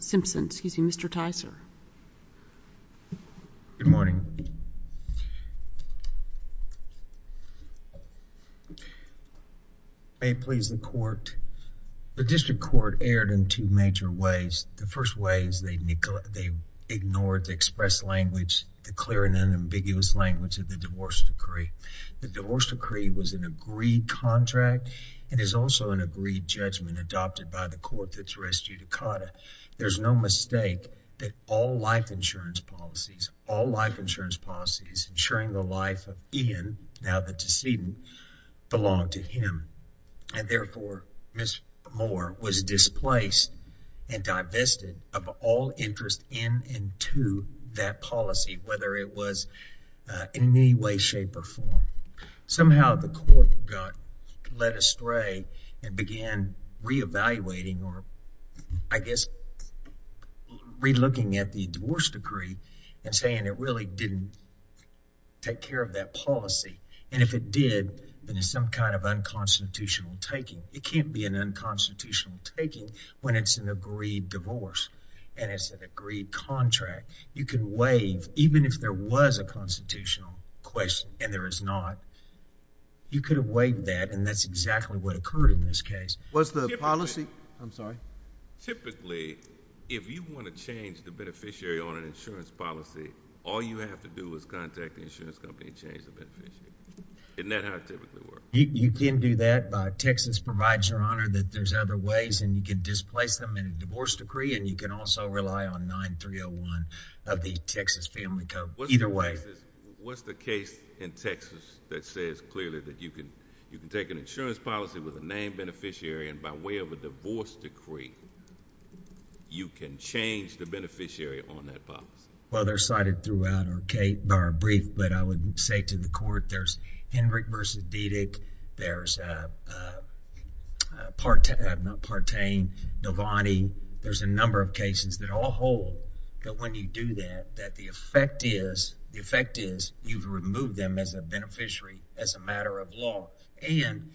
Simpson. Excuse me, Mr Tyser. Good morning. May please the court. The district court aired in two major ways. The first way is they they ignored the express language, the clear and unambiguous language of the divorce decree. The divorce decree was an agreed contract and is also an agreed judgment adopted by the court that's res judicata. There's no mistake that all life insurance policies, all life insurance policies, ensuring the life of Ian. Now the decedent belonged to him and therefore Miss Moore was displaced and divested of all interest in and to that policy, whether it was in any way, shape or form. Somehow the court got led stray and began reevaluating or I guess relooking at the divorce decree and saying it really didn't take care of that policy. And if it did, then there's some kind of unconstitutional taking. It can't be an unconstitutional taking when it's an agreed divorce and it's an agreed contract. You could wave even if there was a constitutional question and there is not, you could wave that and that's exactly what occurred in this case. What's the policy? I'm sorry. Typically, if you want to change the beneficiary on an insurance policy, all you have to do is contact the insurance company and change the beneficiary. Isn't that how it typically works? You can do that. Texas provides your honor that there's other ways and you can displace them in a divorce decree and you can also rely on 9301 of the Texas Family Code. Either way. What's the case in Texas that says clearly that you can take an insurance policy with a named beneficiary and by way of a divorce decree, you can change the beneficiary on that policy? Well, they're cited throughout our brief, but I would say to the court, there's Henrick v. Dedeck, there's Partain, Devaney. There's a number of you've removed them as a beneficiary as a matter of law and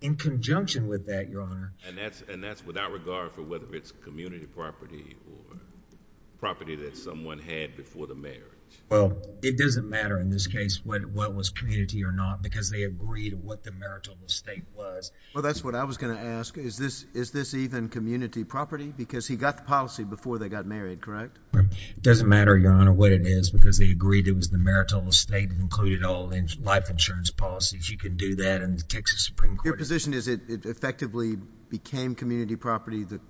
in conjunction with that, your honor, and that's, and that's without regard for whether it's community property or property that someone had before the marriage. Well, it doesn't matter in this case what, what was community or not because they agreed what the marital mistake was. Well, that's what I was going to ask is this, is this even community property? Because he got the policy before they got married, correct? It doesn't matter, your honor, what it is because they agreed it was the marital estate that included all life insurance policies. You can do that in the Texas Supreme Court. Your position is it effectively became community property. The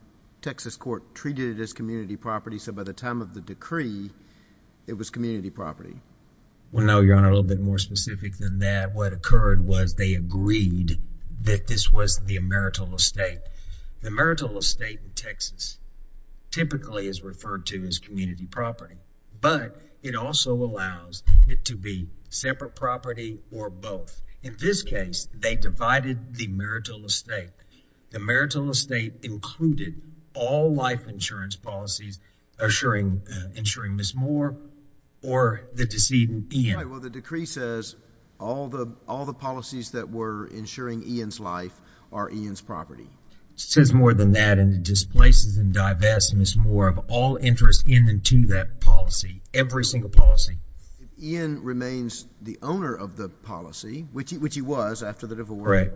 Texas court treated it as community property. So by the time of the decree, it was community property. Well, no, your honor, a little bit more specific than that. What occurred was they agreed that this was the marital estate. The marital estate in Texas typically is referred to as community property, but it also allows it to be separate property or both. In this case, they divided the marital estate. The marital estate included all life insurance policies, assuring, ensuring Ms. Moore or the decedent Ian. Well, the decree says all the, all the policies that were ensuring Ian's life are Ian's property. It says more than that. And it displaces and divests Ms. Moore of all interest in and to that policy, every single policy. Ian remains the owner of the policy, which he, which he was after the divorce.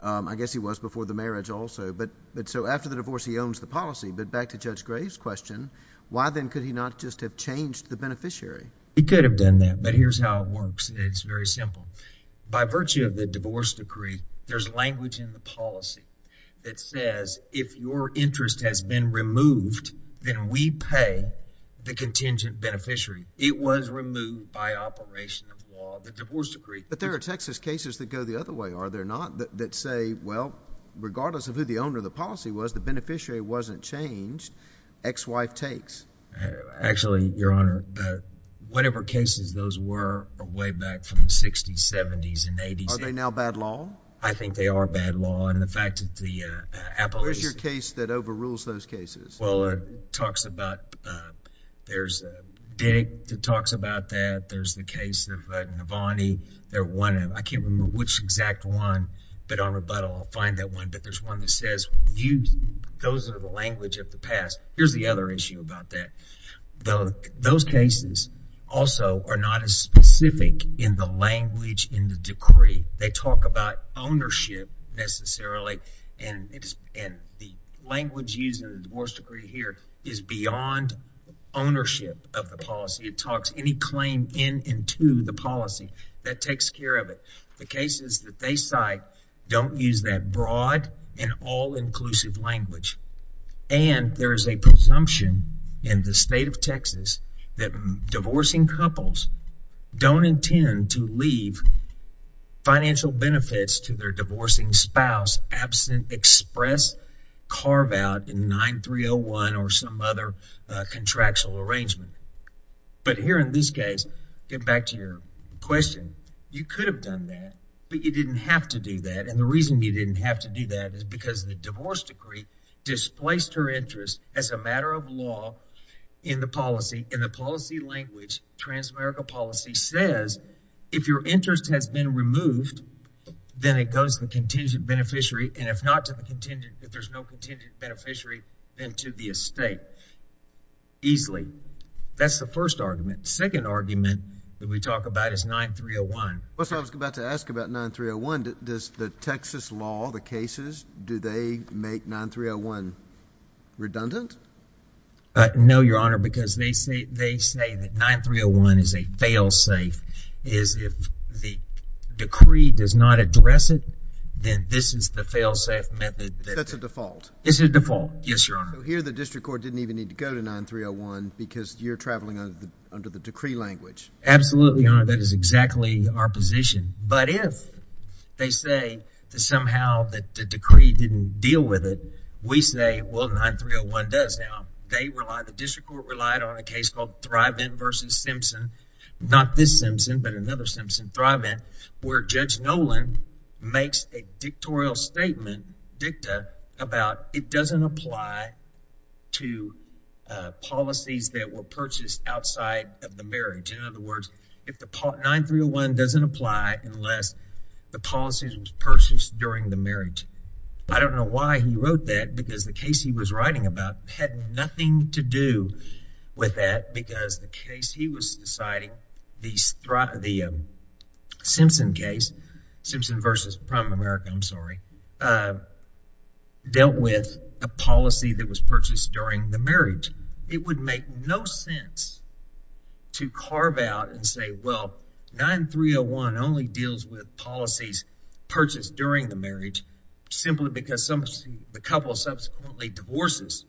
Um, I guess he was before the marriage also, but, but so after the divorce, he owns the policy, but back to Judge Graves question, why then could he not just have changed the beneficiary? He could have done that, but here's how it works. It's very simple. By virtue of the divorce decree, there's language in the policy. It says, if your interest has been removed, then we pay the contingent beneficiary, it was removed by operation of law, the divorce decree. But there are Texas cases that go the other way. Are there not that say, well, regardless of who the owner of the policy was, the beneficiary wasn't changed ex-wife takes actually your honor, whatever cases, those were way back from the sixties, seventies and eighties. Are they now bad law? I think they are bad law. And the fact that the, uh, Apple is your case that overrules those cases. Well, it talks about, uh, there's a big that talks about that. There's the case of Navani. They're one of, I can't remember which exact one, but on rebuttal, I'll find that one, but there's one that says you, those are the language of the past. Here's the other issue about that. Though those cases also are not as specific in the language in the decree. They talk about ownership necessarily. And it's in the language using the divorce decree here is beyond ownership of the policy. It talks any claim in, into the policy that takes care of it. The cases that they cite don't use that broad and all inclusive language. And there is a presumption in the state of Texas that divorcing couples don't intend to leave financial benefits to their divorcing spouse absent express carve out in 9301 or some other contractual arrangement. But here in this case, get back to your question. You could have done that, but you didn't have to do that. And the reason you didn't have to do that is because the divorce decree displaced her interest as a matter of law in the policy, in the policy language, transamerica policy says, if your interest has been removed, then it goes to the contingent beneficiary. And if not to the contingent, if there's no contingent beneficiary then to the estate easily. That's the first argument. Second argument that we talk about is 9301. Well, so I was about to ask about 9301, does the Texas law, the cases, do they make 9301 redundant? No, your honor, because they say, they say that 9301 is a fail safe is if the decree does not address it, then this is the fail safe method. That's a default. It's a default. Yes, your honor. Here, the district court didn't even need to go to 9301 because you're traveling under the decree language. Absolutely. Your honor, that is exactly our position. But if they say that somehow that the decree didn't deal with it, we say, well, 9301 does now. They rely, the district court relied on a case called Thrive-In versus Simpson. Not this Simpson, but another Simpson, Thrive-In, where Judge Nolan makes a dictatorial statement, dicta, about it doesn't apply to policies that were purchased outside of the marriage. In other words, if the 9301 doesn't apply unless the policy was purchased during the marriage. I don't know why he wrote that because the case he was writing about had nothing to do with that because the case he was deciding, the Simpson case, Simpson versus Prime America, I'm sorry, dealt with a policy that was purchased during the marriage, it would make no sense to carve out and say, well, 9301 only deals with policies purchased during the marriage, simply because the couple subsequently divorces,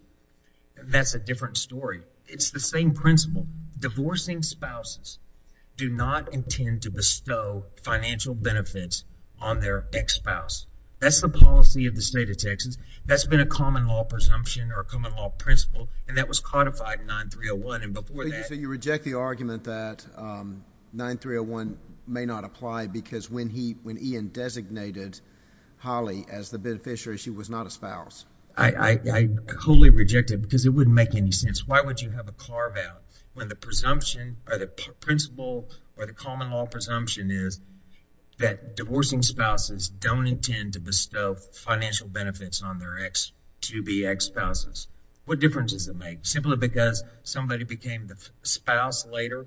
and that's a different story. It's the same principle. Divorcing spouses do not intend to bestow financial benefits on their ex-spouse. That's the policy of the state of Texas. That's been a common law presumption or a common law principle, and that was codified in 9301, and before that. You reject the argument that 9301 may not apply because when he, when Ian designated Holly as the beneficiary, she was not a spouse. I wholly reject it because it wouldn't make any sense. Why would you have a carve out when the presumption or the principle or the common law presumption is that divorcing spouses don't intend to bestow financial benefits on their ex-to-be ex-spouses? What difference does it make? Simply because somebody became the spouse later.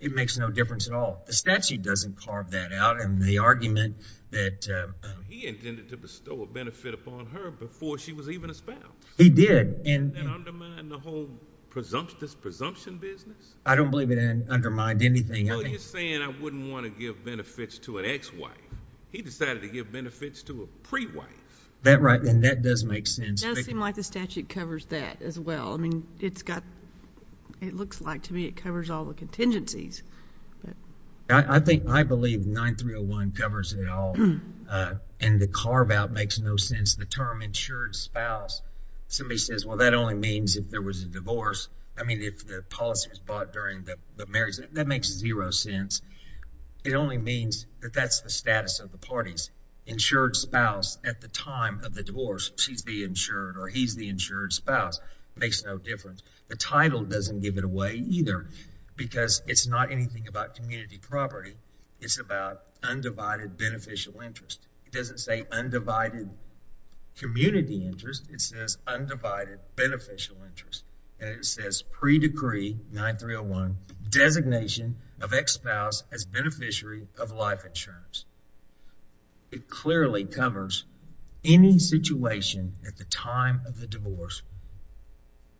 It makes no difference at all. The statute doesn't carve that out. And the argument that, uh, he intended to bestow a benefit upon her before she was even a spouse. He did. And that undermined the whole presumptuous presumption business? I don't believe it undermined anything. Well, you're saying I wouldn't want to give benefits to an ex-wife. He decided to give benefits to a pre-wife. That right. And that does make sense. It does seem like the statute covers that as well. I mean, it's got, it looks like to me, it covers all the contingencies. I think, I believe 9301 covers it all. Uh, and the carve out makes no sense. The term insured spouse. Somebody says, well, that only means if there was a divorce. I mean, if the policy was bought during the marriage, that makes zero sense. It only means that that's the status of the parties. Insured spouse at the time of the divorce. She's the insured or he's the insured spouse. Makes no difference. The title doesn't give it away either because it's not anything about community property. It's about undivided beneficial interest. It doesn't say undivided community interest. It says undivided beneficial interest. And it says pre decree 9301 designation of ex-spouse as beneficiary of life insurance. It clearly covers any situation at the time of the divorce.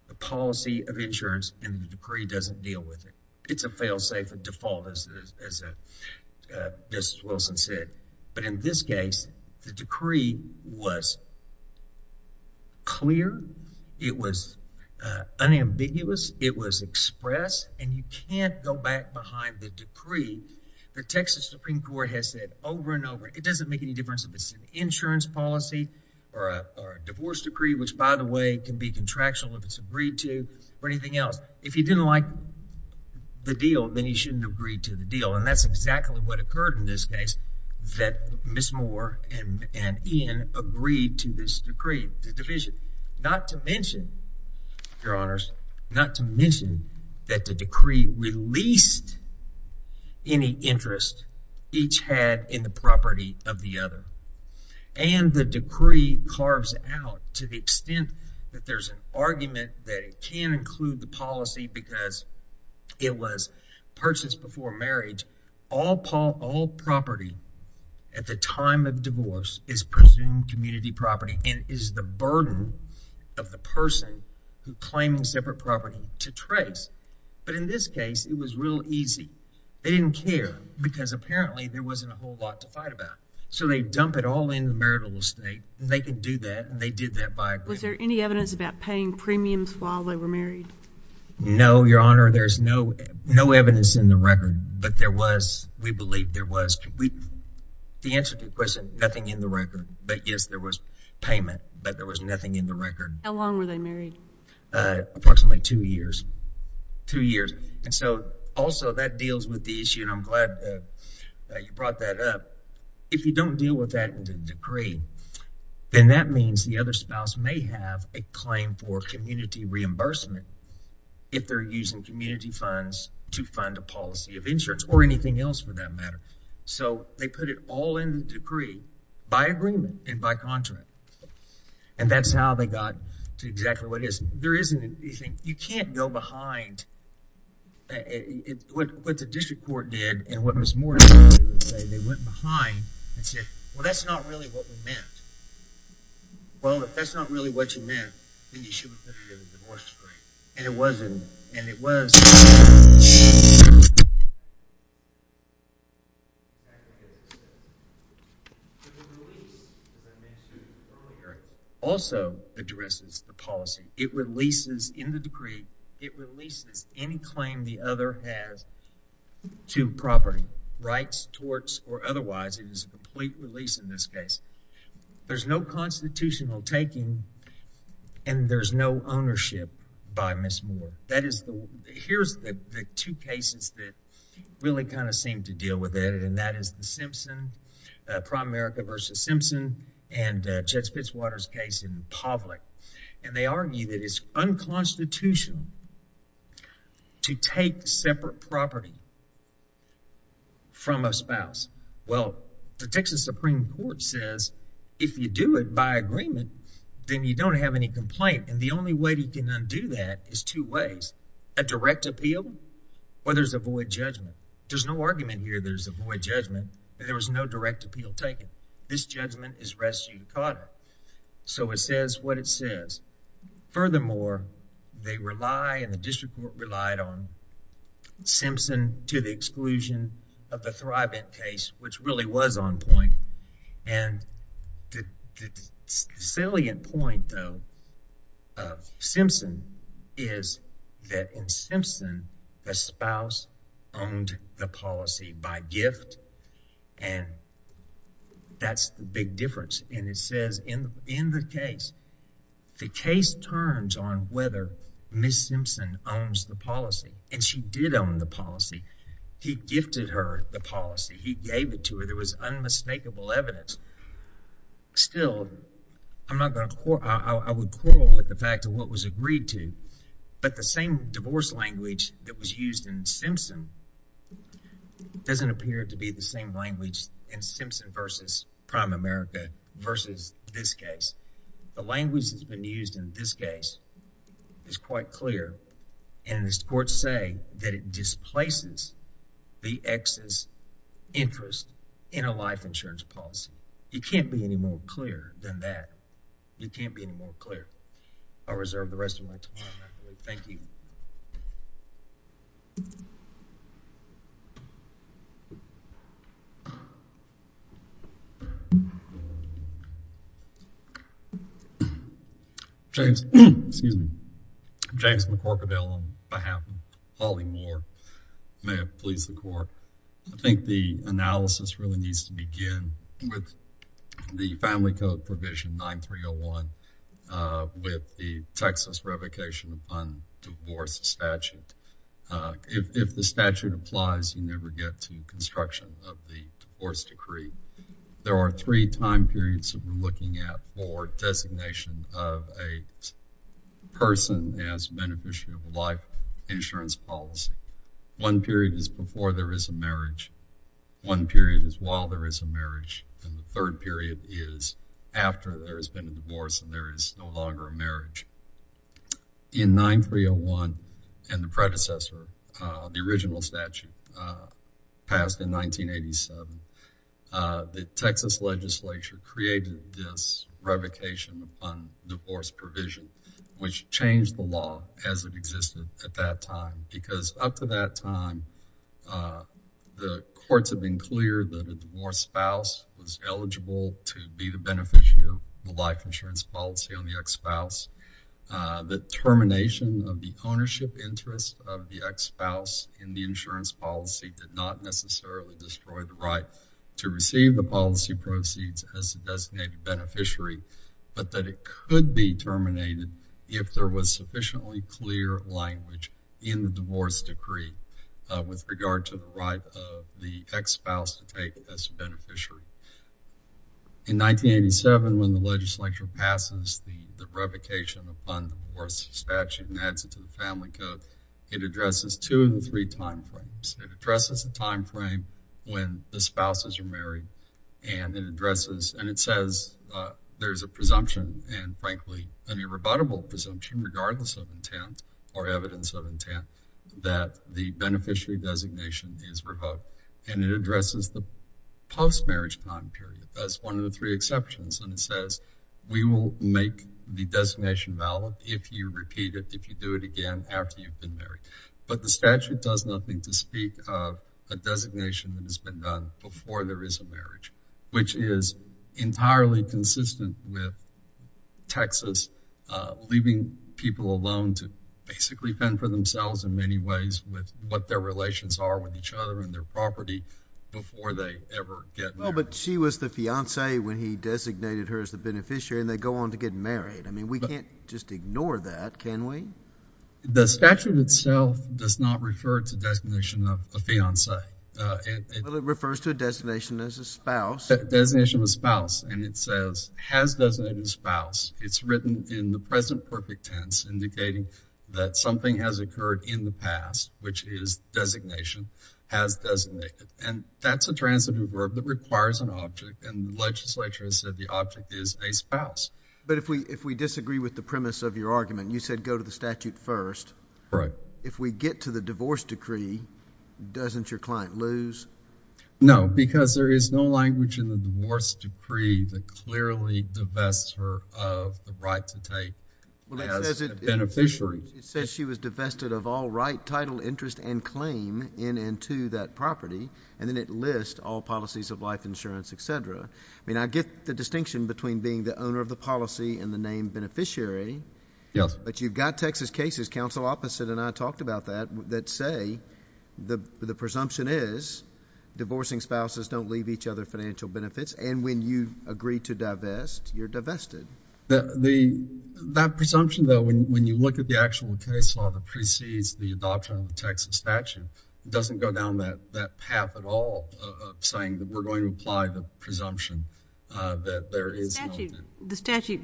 The policy of insurance and the decree doesn't deal with it. It's a fail safe and default as, as, uh, uh, this Wilson said. But in this case, the decree was clear. It was, uh, unambiguous. It was expressed and you can't go back behind the decree. The Texas Supreme court has said over and over, it doesn't make any difference if it's an insurance policy or a divorce decree, which by the way, can be contractual if it's agreed to or anything else, if you didn't like the deal, then you shouldn't have agreed to the deal. And that's exactly what occurred in this case that Ms. Moore and Ian agreed to this decree, the division, not to mention, your honors, not to mention that the decree released any interest each had in the property of the other. And the decree carves out to the extent that there's an argument that it can include the policy because it was purchased before marriage, all Paul, all property at the time of divorce is presumed community property and is the burden of the person who claims separate property to trace. But in this case, it was real easy. They didn't care because apparently there wasn't a whole lot to fight about. So they dump it all in the marital estate and they can do that. And they did that by, was there any evidence about paying premiums while they were married? No, your honor. There's no, no evidence in the record, but there was, we believe there was. The answer to the question, nothing in the record, but yes, there was payment, but there was nothing in the record. How long were they married? Uh, approximately two years, two years. And so also that deals with the issue. And I'm glad that you brought that up. If you don't deal with that in the decree, then that means the other spouse may have a claim for community reimbursement if they're using community funds to fund a policy of insurance or anything else for that matter. So they put it all in decree by agreement and by contract. And that's how they got to exactly what it is. There isn't anything, you can't go behind what the district court did. And what Ms. Morton did was say they went behind and said, well, that's not really what we meant. Well, if that's not really what you meant, then you should have put it in the divorce decree. And it wasn't, and it was. Also addresses the policy. It releases in the decree. It releases any claim the other has to property rights, torts, or otherwise. It is a complete release in this case. There's no constitutional taking and there's no ownership by Ms. Moore. That is the, here's the two cases that really kind of seemed to deal with it. And that is the Simpson, uh, prime America versus Simpson and, uh, that's Fitzwater's case in public. And they argue that it's unconstitutional to take separate property from a spouse. Well, the Texas Supreme court says, if you do it by agreement, then you don't have any complaint. And the only way you can undo that is two ways, a direct appeal or there's a void judgment. There's no argument here. There's a void judgment and there was no direct appeal taken. This judgment is res judicata. So it says what it says. Furthermore, they rely and the district court relied on Simpson to the exclusion of the Thribent case, which really was on point. And the salient point though of Simpson is that in Simpson, the spouse owned the policy by gift and that's the big difference. And it says in, in the case, the case turns on whether Ms. Simpson owns the policy and she did own the policy. He gifted her the policy. He gave it to her. There was unmistakable evidence. Still, I'm not going to, I would quarrel with the fact of what was agreed to, but the same divorce language that was used in Simpson doesn't appear to be the same language in Simpson versus prime America versus this case. The language that's been used in this case is quite clear. And this court say that it displaces the exes interest in a life insurance policy. You can't be any more clear than that. You can't be any more clear. I'll reserve the rest of my time. Thank you. James, excuse me. James McCorkaville on behalf of Holly Moore. May it please the court. I think the analysis really needs to begin with the family code provision 9301. With the Texas revocation upon divorce statute, if the statute applies, you never get to construction of the divorce decree. There are three time periods that we're looking at for designation of a person as beneficiary of a life insurance policy. One period is before there is a marriage. One period is while there is a marriage. And the third period is after there has been a divorce and there is no longer a marriage. In 9301 and the predecessor, the original statute passed in 1987, the Texas legislature created this revocation upon divorce provision, which changed the law as it existed at that time. Because up to that time, the courts have been clear that a divorce spouse was eligible to be the beneficiary of the life insurance policy on the ex-spouse. The termination of the ownership interest of the ex-spouse in the insurance policy did not necessarily destroy the right to receive the policy proceeds as a designated beneficiary, but that it could be terminated if there was sufficiently clear language in the divorce decree with regard to the right of the ex-spouse to take as a beneficiary. In 1987, when the legislature passes the revocation upon the divorce statute and adds it to the family code, it addresses two of the three time frames. It addresses the time frame when the spouses are married and it addresses, and it says there's a presumption and frankly, an irrebuttable presumption, regardless of intent or evidence of intent, that the beneficiary designation is revoked. And it addresses the post-marriage time period as one of the three exceptions. And it says, we will make the designation valid if you repeat it, if you do it again after you've been married. But the statute does nothing to speak of a designation that has been done before there is a marriage, which is entirely consistent with Texas leaving people alone to basically fend for themselves in many ways with what their relations are with each other and their property before they ever get married. Well, but she was the fiancé when he designated her as the beneficiary and they go on to get married. I mean, we can't just ignore that, can we? The statute itself does not refer to designation of a fiancé. Well, it refers to a designation as a spouse. A designation of a spouse. And it says, has designated spouse. It's written in the present perfect tense indicating that something has occurred in the past, which is designation, has designated. And that's a transitive verb that requires an object. And the legislature has said the object is a spouse. But if we disagree with the premise of your argument, you said go to the statute first. Right. If we get to the divorce decree, doesn't your client lose? No, because there is no language in the divorce decree that clearly divests her of the right to take as a beneficiary. It says she was divested of all right, title, interest and claim in and to that property. And then it lists all policies of life insurance, et cetera. I mean, I get the distinction between being the owner of the policy and the name beneficiary. Yes. But you've got Texas cases. Counsel Opposite and I talked about that, that say the presumption is divorcing spouses don't leave each other financial benefits. And when you agree to divest, you're divested. That presumption, though, when you look at the actual case law that precedes the adoption of the Texas statute, doesn't go down that path at all of saying that we're going to apply the presumption that there is nothing. The statute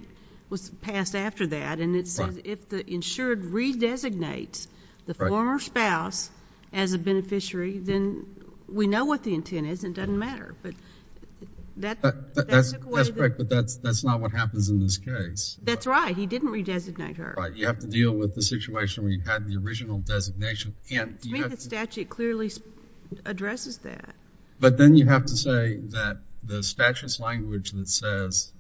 was passed after that. And it says if the insured redesignates the former spouse as a beneficiary, then we know what the intent is. It doesn't matter. But that's correct. But that's not what happens in this case. That's right. He didn't redesignate her. Right. You have to deal with the situation where you had the original designation. To me, the statute clearly addresses that. But then you have to say that the statute's language that says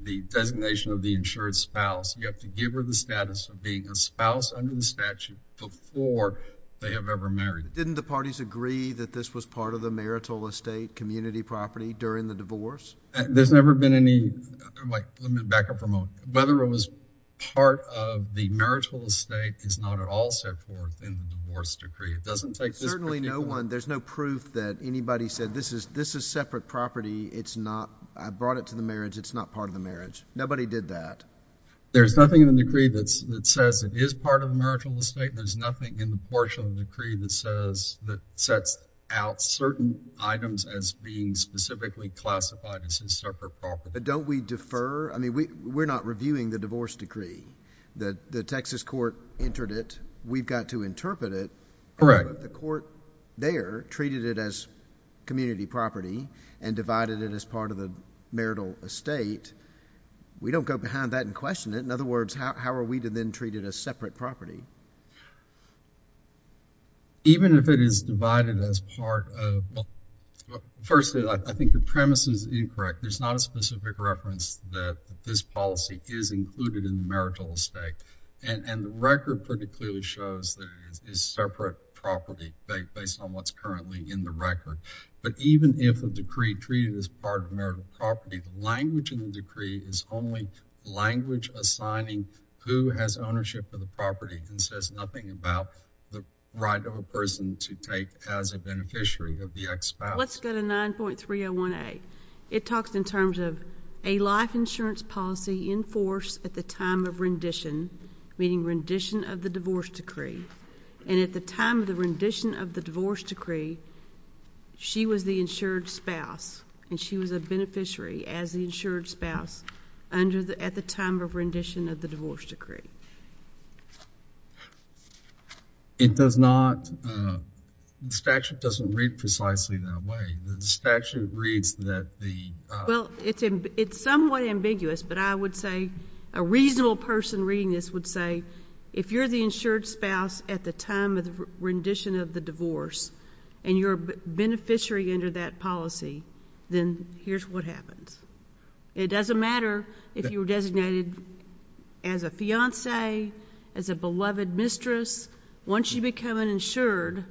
the designation of the insured spouse, you have to give her the status of being a spouse under the statute before they have ever married. Didn't the parties agree that this was part of the marital estate community property during the divorce? There's never been any, like, let me back up for a moment. Whether it was part of the marital estate is not at all set forth in the divorce decree. It doesn't take this particular. There's certainly no one, there's no proof that anybody said this is separate property. It's not, I brought it to the marriage. It's not part of the marriage. Nobody did that. There's nothing in the decree that says it is part of the marital estate. There's nothing in the portion of the decree that says, that sets out certain items as being specifically classified as his separate property. But don't we defer? I mean, we're not reviewing the divorce decree. The Texas court entered it. We've got to interpret it. Correct. But the court there treated it as community property and divided it as part of the marital estate. We don't go behind that and question it. In other words, how are we to then treat it as separate property? Even if it is divided as part of, first, I think the premise is incorrect. There's not a specific reference that this policy is included in the marital estate. And the record pretty clearly shows that it is separate property based on what's currently in the record. But even if a decree treated as part of marital property, the language in the decree is only language assigning who has ownership of the property and says nothing about the right of a person to take as a beneficiary of the ex-spouse. Let's go to 9.301A. It talks in terms of a life insurance policy enforced at the time of rendition, meaning rendition of the divorce decree. And at the time of the rendition of the divorce decree, she was the insured spouse. And she was a beneficiary as the insured spouse at the time of rendition of the divorce decree. It does not, the statute doesn't read precisely that way. The statute reads that the- Well, it's somewhat ambiguous, but I would say a reasonable person reading this would say, if you're the insured spouse at the time of the rendition of the divorce and you're a beneficiary under that policy, then here's what happens. It doesn't matter if you were designated as a fiance, as a beloved mistress. Once you become an insured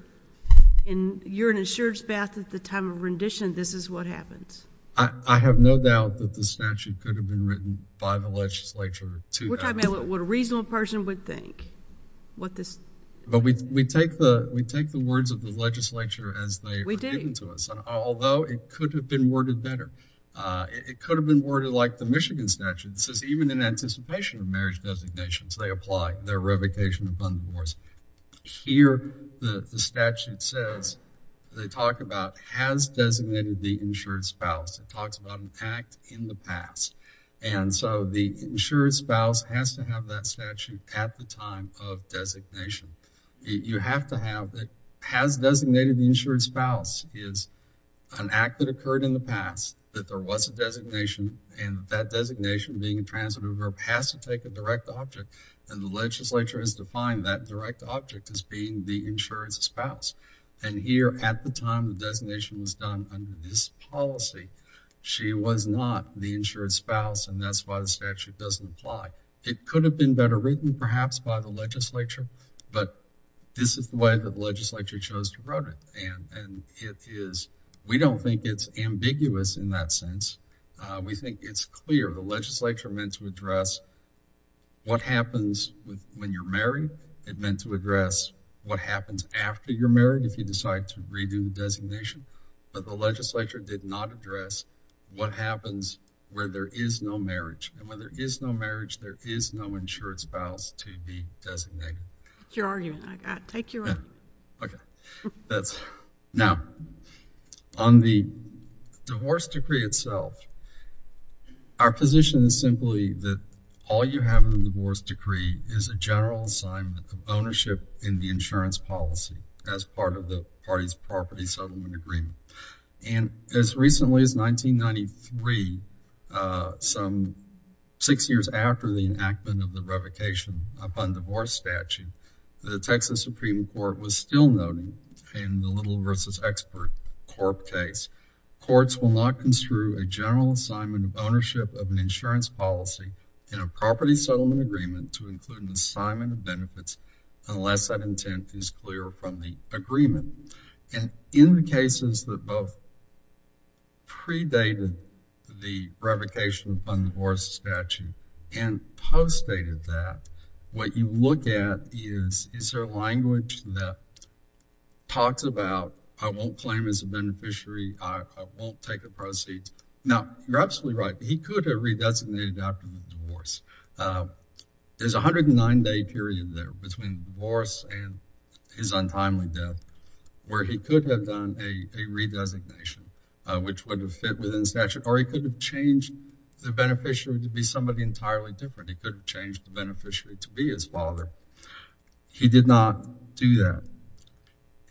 and you're an insured spouse at the time of rendition, this is what happens. I have no doubt that the statute could have been written by the legislature to- We're talking about what a reasonable person would think. What this- But we take the words of the legislature as they are given to us, although it could have been worded better. It could have been worded like the Michigan statute. It says, even in anticipation of marriage designations, they apply their revocation of fund divorce. Here, the statute says, they talk about has designated the insured spouse. It talks about an act in the past. And so, the insured spouse has to have that statute at the time of designation. You have to have that has designated the insured spouse is an act that occurred in the past, that there was a designation, and that designation, being a transitive group, has to take a direct object. And the legislature has defined that direct object as being the insured spouse. And here, at the time the designation was done under this policy, she was not the insured spouse. And that's why the statute doesn't apply. It could have been better written, perhaps, by the legislature. But this is the way the legislature chose to wrote it. And it is, we don't think it's ambiguous in that sense. We think it's clear. The legislature meant to address what happens when you're married. It meant to address what happens after you're married, if you decide to redo designation. But the legislature did not address what happens where there is no marriage. And where there is no marriage, there is no insured spouse to be designated. Your argument, I take your word. OK. Now, on the divorce decree itself, our position is simply that all you have in the divorce decree is a general assignment of ownership in the insurance policy as part of the party's property settlement agreement. And as recently as 1993, some six years after the enactment of the revocation of undivorced statute, the Texas Supreme Court was still noting in the Little v. Expert Corp. case, courts will not construe a general assignment of ownership of an insurance policy in a property settlement agreement to include an assignment of benefits unless that intent is clear from the agreement. And in the cases that both predated the revocation of undivorced statute and postdated that, what you look at is, is there language that talks about, I won't claim as a beneficiary, I won't take a proceed. Now, you're absolutely right. He could have re-designated after the divorce. There's a 109-day period there between divorce and his untimely death where he could have done a re-designation, which would have fit within the statute. Or he could have changed the beneficiary to be somebody entirely different. He could have changed the beneficiary to be his father. He did not do that.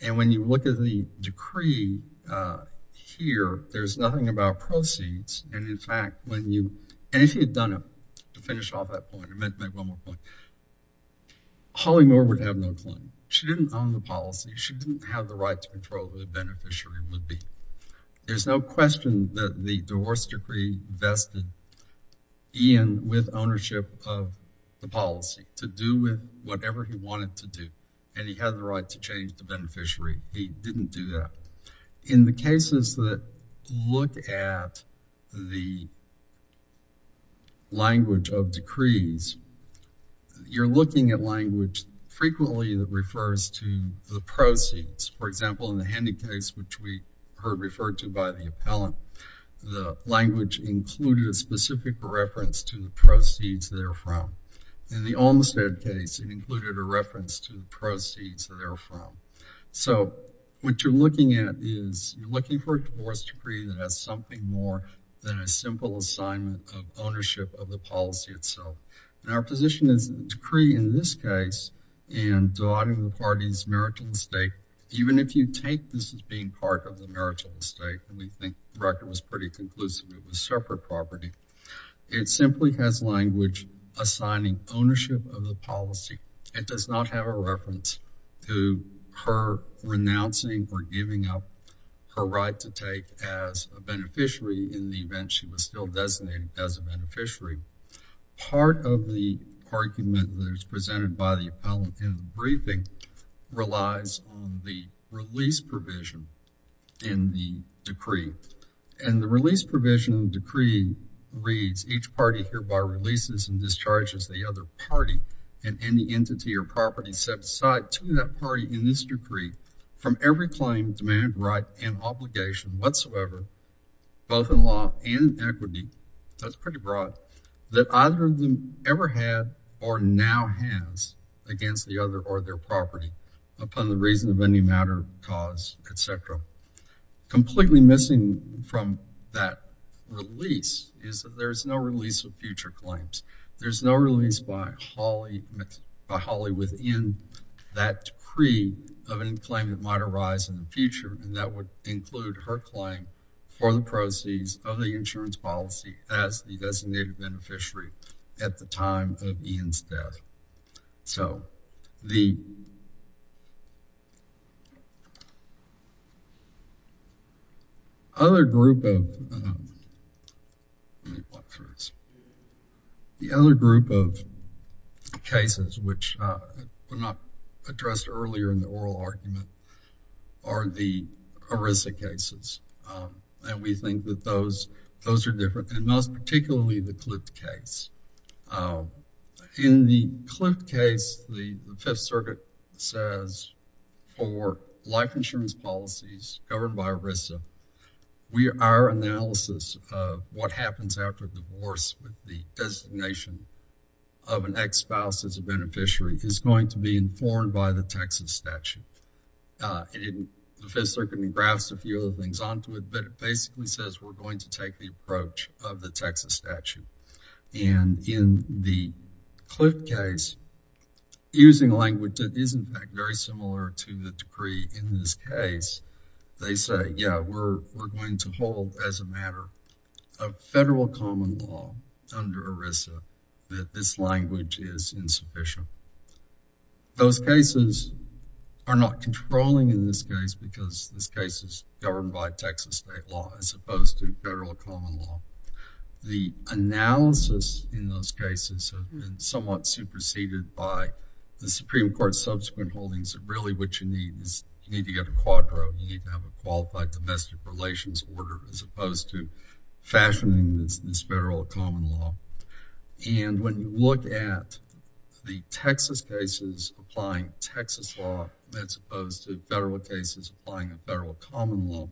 And when you look at the decree here, there's nothing about proceeds. And in fact, when you, and if he had done it, to finish off that point, I meant to make one more point, Holly Moore would have no claim. She didn't own the policy. She didn't have the right to control who the beneficiary would be. There's no question that the divorce decree vested Ian with ownership of the policy to do with whatever he wanted to do. And he had the right to change the beneficiary. He didn't do that. In the cases that look at the language of decrees, you're looking at language frequently that refers to the proceeds. For example, in the Handy case, which we heard referred to by the appellant, the language included a specific reference to the proceeds therefrom. In the Olmstead case, it included a reference to the proceeds therefrom. So what you're looking at is you're looking for a divorce decree that has something more than a simple assignment of ownership of the policy itself. And our position is the decree in this case, and dividing the parties' marital estate, even if you take this as being part of the marital estate, and we think the record was pretty conclusive, it was separate property, it simply has language assigning ownership of the policy. It does not have a reference to her renouncing or giving up her right to take as a beneficiary in the event she was still designated as a beneficiary. Part of the argument that is presented by the appellant in the briefing relies on the release provision in the decree. And the release provision of the decree reads, each party hereby releases and discharges the other party and any entity or property set aside to that party in this decree from every claim, demand, right, and obligation whatsoever, both in law and in equity. That's pretty broad. That either of them ever had or now has against the other or their property upon the reason of any matter, cause, et cetera. Completely missing from that release is that there's no release of future claims. There's no release by Holly within that decree of any claim that might arise in the future, and that would include her claim for the proceeds of the insurance policy as the designated beneficiary at the time of Ian's death. So, the other group of cases which were not addressed earlier in the oral argument are the ERISA cases. And we think that those are different and most particularly the CLIFT case. In the CLIFT case, the Fifth Circuit says for life insurance policies covered by ERISA, our analysis of what happens after divorce with the designation of an ex-spouse as a beneficiary is going to be informed by the Texas statute. The Fifth Circuit graphs a few other things onto it, but it basically says we're going to take the approach of the Texas statute. And in the CLIFT case, using language that is in fact very similar to the decree in this case, they say, yeah, we're going to hold as a matter of federal common law under ERISA that this language is insufficient. So, those cases are not controlling in this case because this case is governed by Texas state law as opposed to federal common law. The analysis in those cases have been somewhat superseded by the Supreme Court's subsequent holdings of really what you need is you need to get a quadro, you need to have a qualified domestic relations order as opposed to fashioning this federal common law. And when you look at the Texas cases applying Texas law as opposed to federal cases applying a federal common law,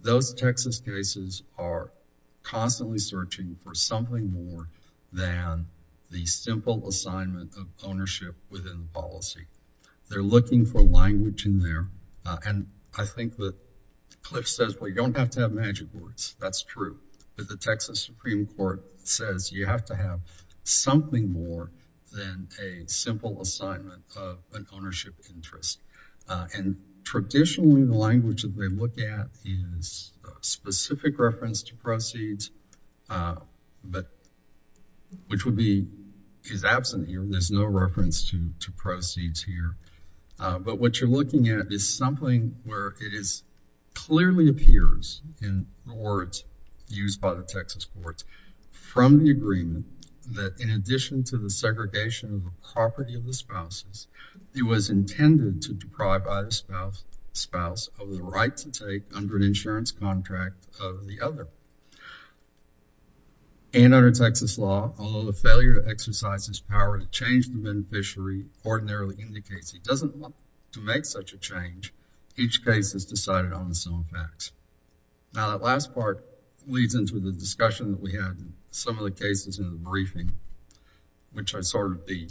those Texas cases are constantly searching for something more than the simple assignment of ownership within the policy. They're looking for language in there. And I think that CLIFT says, well, you don't have to have magic words. That's true. But the Texas Supreme Court says you have to have something more than a simple assignment of an ownership interest. And traditionally, the language that they look at is specific reference to proceeds, but which would be is absent here. There's no reference to proceeds here. But what you're looking at is something where it is clearly appears in the words used by the Texas courts from the agreement that in addition to the segregation of the property of the spouses, it was intended to deprive either spouse of the right to take under an insurance contract of the other. And under Texas law, although the failure to exercise his power to change the beneficiary ordinarily indicates he doesn't want to make such a change, each case is decided on its own facts. Now, that last part leads into the discussion that we had in some of the cases in the briefing, which are sort of the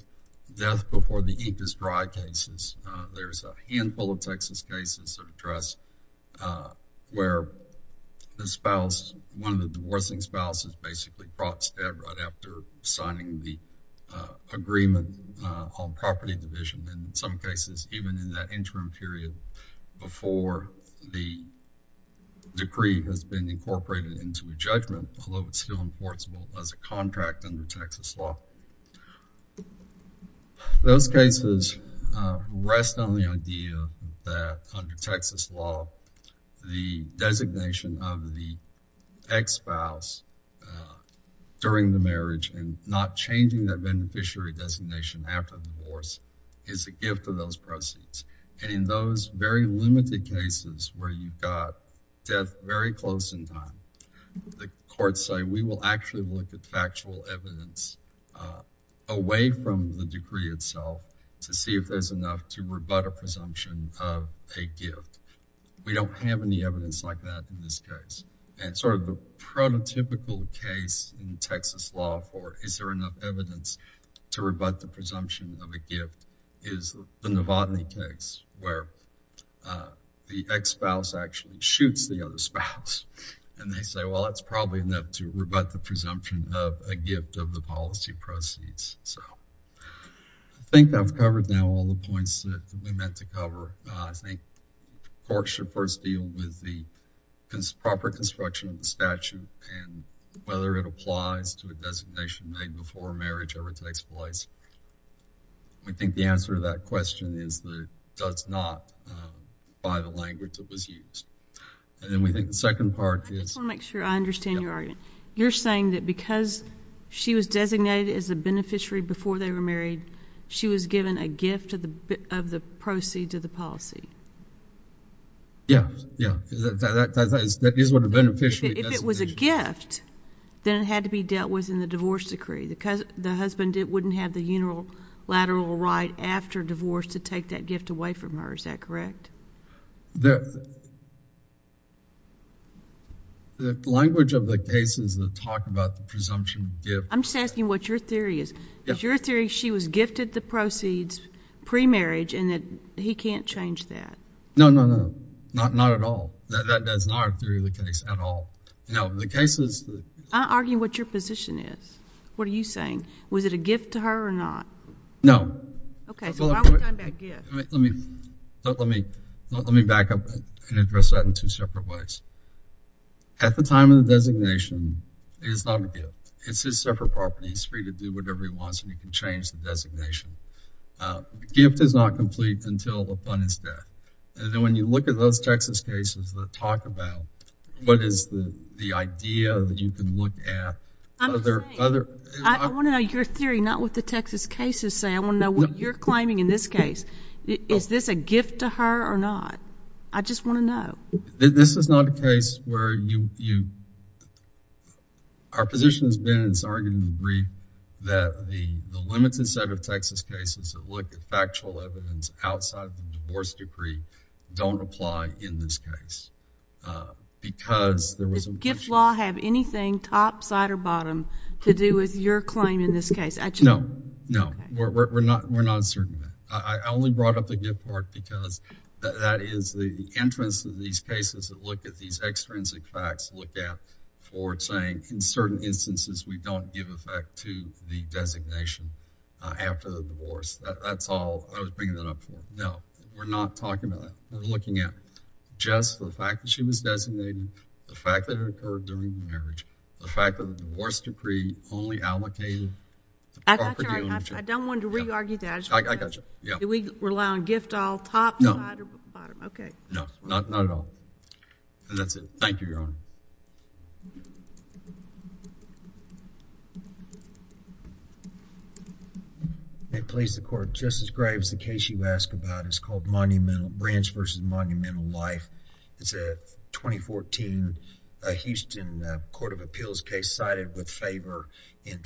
death before the ink is dry cases. There's a handful of Texas cases that are addressed where the spouse, one of the divorcing spouses, basically brought to death right after signing the agreement on property division. And in some cases, even in that interim period before the decree has been incorporated into the judgment, although it's still enforceable as a contract under Texas law. So, those cases rest on the idea that under Texas law, the designation of the ex-spouse during the marriage and not changing that beneficiary designation after divorce is a gift of those proceeds. And in those very limited cases where you've got death very close in time, the courts say we will actually look at factual evidence away from the decree itself to see if there's enough to rebut a presumption of a gift. We don't have any evidence like that in this case. And sort of the prototypical case in Texas law for is there enough evidence to rebut the presumption of a gift is the Novotny case where the ex-spouse actually shoots the other spouse. And they say, well, that's probably enough to rebut the presumption of a gift of the policy proceeds. So, I think I've covered now all the points that we meant to cover. I think courts should first deal with the proper construction of the statute and whether it applies to a designation made before marriage ever takes place. We think the answer to that question is that it does not by the language that was used. And then we think the second part is. I just want to make sure I understand your argument. You're saying that because she was designated as a beneficiary before they were married, she was given a gift of the proceeds of the policy? Yeah, yeah, that is what a beneficiary designation. If it was a gift, then it had to be dealt with in the divorce decree because the husband wouldn't have the unilateral right after divorce to take that gift away from her. Is that correct? The language of the case is to talk about the presumption of a gift. I'm just asking what your theory is. Is your theory she was gifted the proceeds pre-marriage and that he can't change that? No, no, no, not at all. That is not our theory of the case at all. No, the case is. I'm arguing what your position is. What are you saying? Was it a gift to her or not? No. Okay, so why would it be a gift? Let me back up and address that in two separate ways. At the time of the designation, it is not a gift. It's his separate property. He's free to do whatever he wants and he can change the designation. Gift is not complete until the fund is there. And then when you look at those Texas cases that talk about what is the idea that you can look at. I want to know your theory, not what the Texas cases say. I want to know what you're claiming in this case. Is this a gift to her or not? I just want to know. This is not a case where you. Our position has been, and it's argued in the brief, that the limited set of Texas cases that look at factual evidence outside of the divorce decree don't apply in this case. Because there was a. Does gift law have anything top, side, or bottom to do with your claim in this case? No, no, we're not. We're not certain of that. I only brought up the gift part because that is the interest of these cases that look at these extrinsic facts, look at for saying in certain instances we don't give effect to the designation after the divorce. That's all I was bringing that up for. No, we're not talking about that. We're looking at just the fact that she was designated, the fact that it occurred during the marriage, the fact that the divorce decree only allocated. I don't want to re-argue that. Did we rely on gift all, top, side, or bottom? No, not at all. That's it. Thank you, Your Honor. May it please the Court. Justice Graves, the case you ask about is called Branch vs. Monumental Life. It's a 2014 Houston Court of Appeals case cited with favor in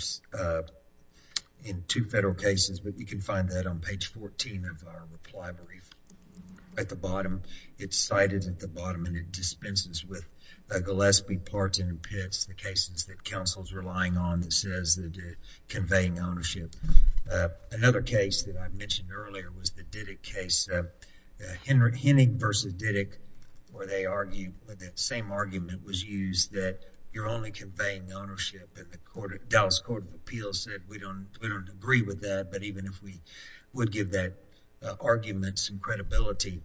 two federal cases, but you can find that on page 14 of our reply brief at the bottom. It's cited at the bottom and it dispenses with Gillespie, Parton, and Pitts, the cases that counsel's relying on that says that they're conveying ownership. Another case that I mentioned earlier was the Diddick case, Hennig vs. Diddick where they argue that same argument was used that you're only conveying ownership and the Dallas Court of Appeals said we don't agree with that, but even if we would give that argument some credibility,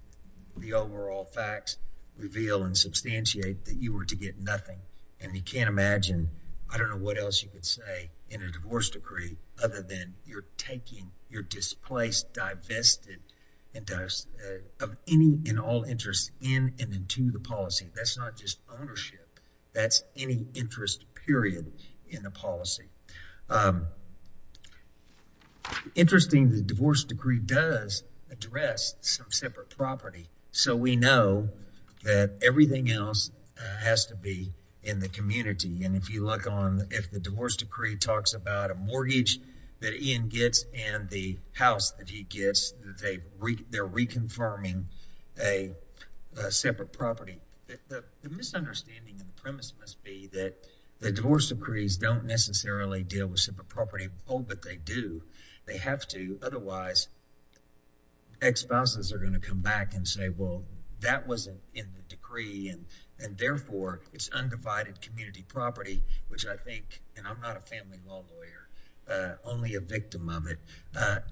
the overall facts reveal and substantiate that you were to get nothing and we can't imagine, I don't know what else you could say in a divorce decree other than you're taking, you're displaced, divested of any and all interest in and into the policy. That's not just ownership. That's any interest period in the policy. It's interesting the divorce decree does address some separate property, so we know that everything else has to be in the community and if you look on, if the divorce decree talks about a mortgage that Ian gets and the house that he gets, they're reconfirming a separate property. The misunderstanding and premise must be that the divorce decrees don't necessarily deal with separate property at all, but they do. They have to. Otherwise, ex-spouses are going to come back and say, well, that wasn't in the decree and therefore it's undivided community property, which I think, and I'm not a family law lawyer, only a victim of it,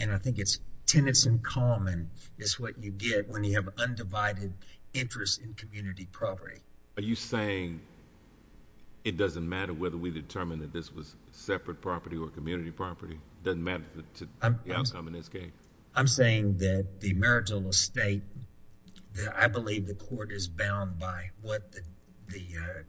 and I think it's tenants in common is what you get when you have undivided interest in community property. Are you saying it doesn't matter whether we determine that this was separate property or community property? It doesn't matter to the outcome in this case? I'm saying that the marital estate, I believe the court is bound by what the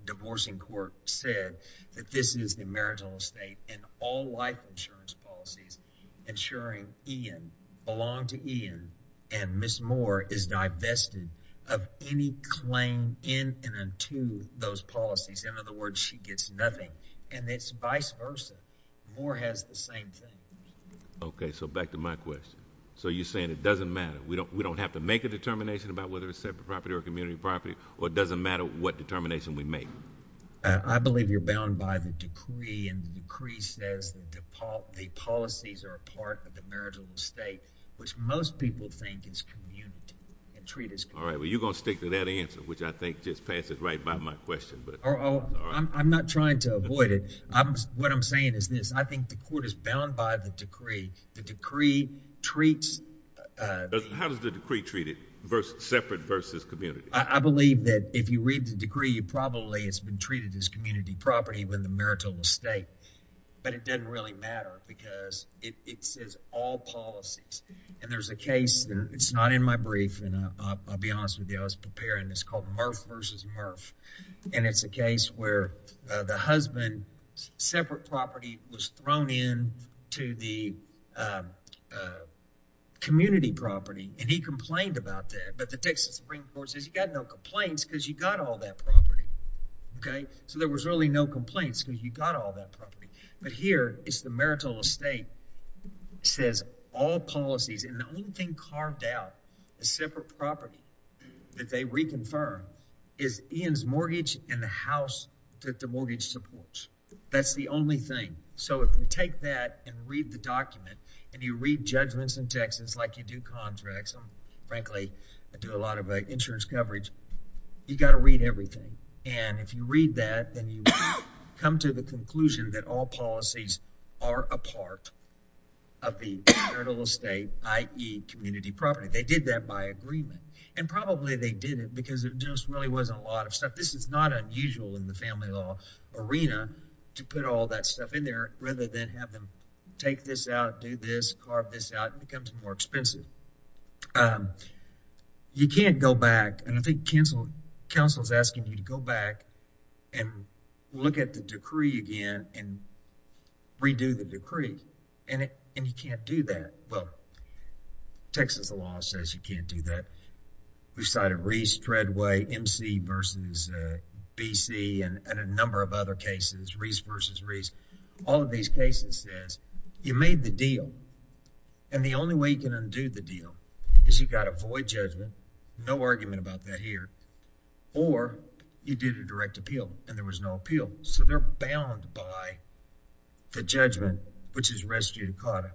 divorcing court said, that this is the marital estate and all life insurance policies ensuring Ian, belong to Ian, and Ms. Moore is divested of any claim in and to those policies. In other words, she gets nothing and it's vice versa. Moore has the same thing. Okay, so back to my question. So you're saying it doesn't matter, we don't have to make a determination about whether it's separate property or community property, or it doesn't matter what determination we make? I believe you're bound by the decree and the decree says the policies are a part of the marital estate, which most people think is community and treat as community. All right, well, you're going to stick to that answer, which I think just passes right by my question. I'm not trying to avoid it. What I'm saying is this. I think the court is bound by the decree. The decree treats... How does the decree treat it, separate versus community? I believe that if you read the decree, you probably it's been treated as community property when the marital estate, but it doesn't really matter because it says all policies. And there's a case, it's not in my brief, and I'll be honest with you. I was preparing this called Murph versus Murph. And it's a case where the husband's separate property was thrown in to the community property and he complained about that. But the Texas Supreme Court says you got no complaints because you got all that property. Okay, so there was really no complaints because you got all that property. But here it's the marital estate says all policies. And the only thing carved out, a separate property that they reconfirm, is Ian's mortgage and the house that the mortgage supports. That's the only thing. So if you take that and read the document and you read judgments in Texas like you do contracts. I'm frankly, I do a lot of insurance coverage. You got to read everything. And if you read that, then you come to the conclusion that all policies are a part of the marital estate, i.e. community property. They did that by agreement. And probably they did it because it just really wasn't a lot of stuff. This is not unusual in the family law arena to put all that stuff in there rather than have them take this out, do this, carve this out. It becomes more expensive. You can't go back. And I think counsel is asking you to go back and look at the decree again and redo the decree. And you can't do that. Well, Texas law says you can't do that. We've cited Reese, Treadway, M.C. versus B.C. and a number of other cases, Reese versus Reese. All of these cases says you made the deal. And the only way you can undo the deal is you've got to avoid judgment. No argument about that here. Or you did a direct appeal and there was no appeal. So they're bound by the judgment, which is res judicata.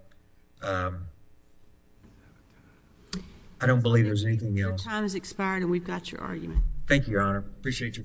I don't believe there's anything else. Your time has expired and we've got your argument. Thank you, Your Honor. I appreciate your time.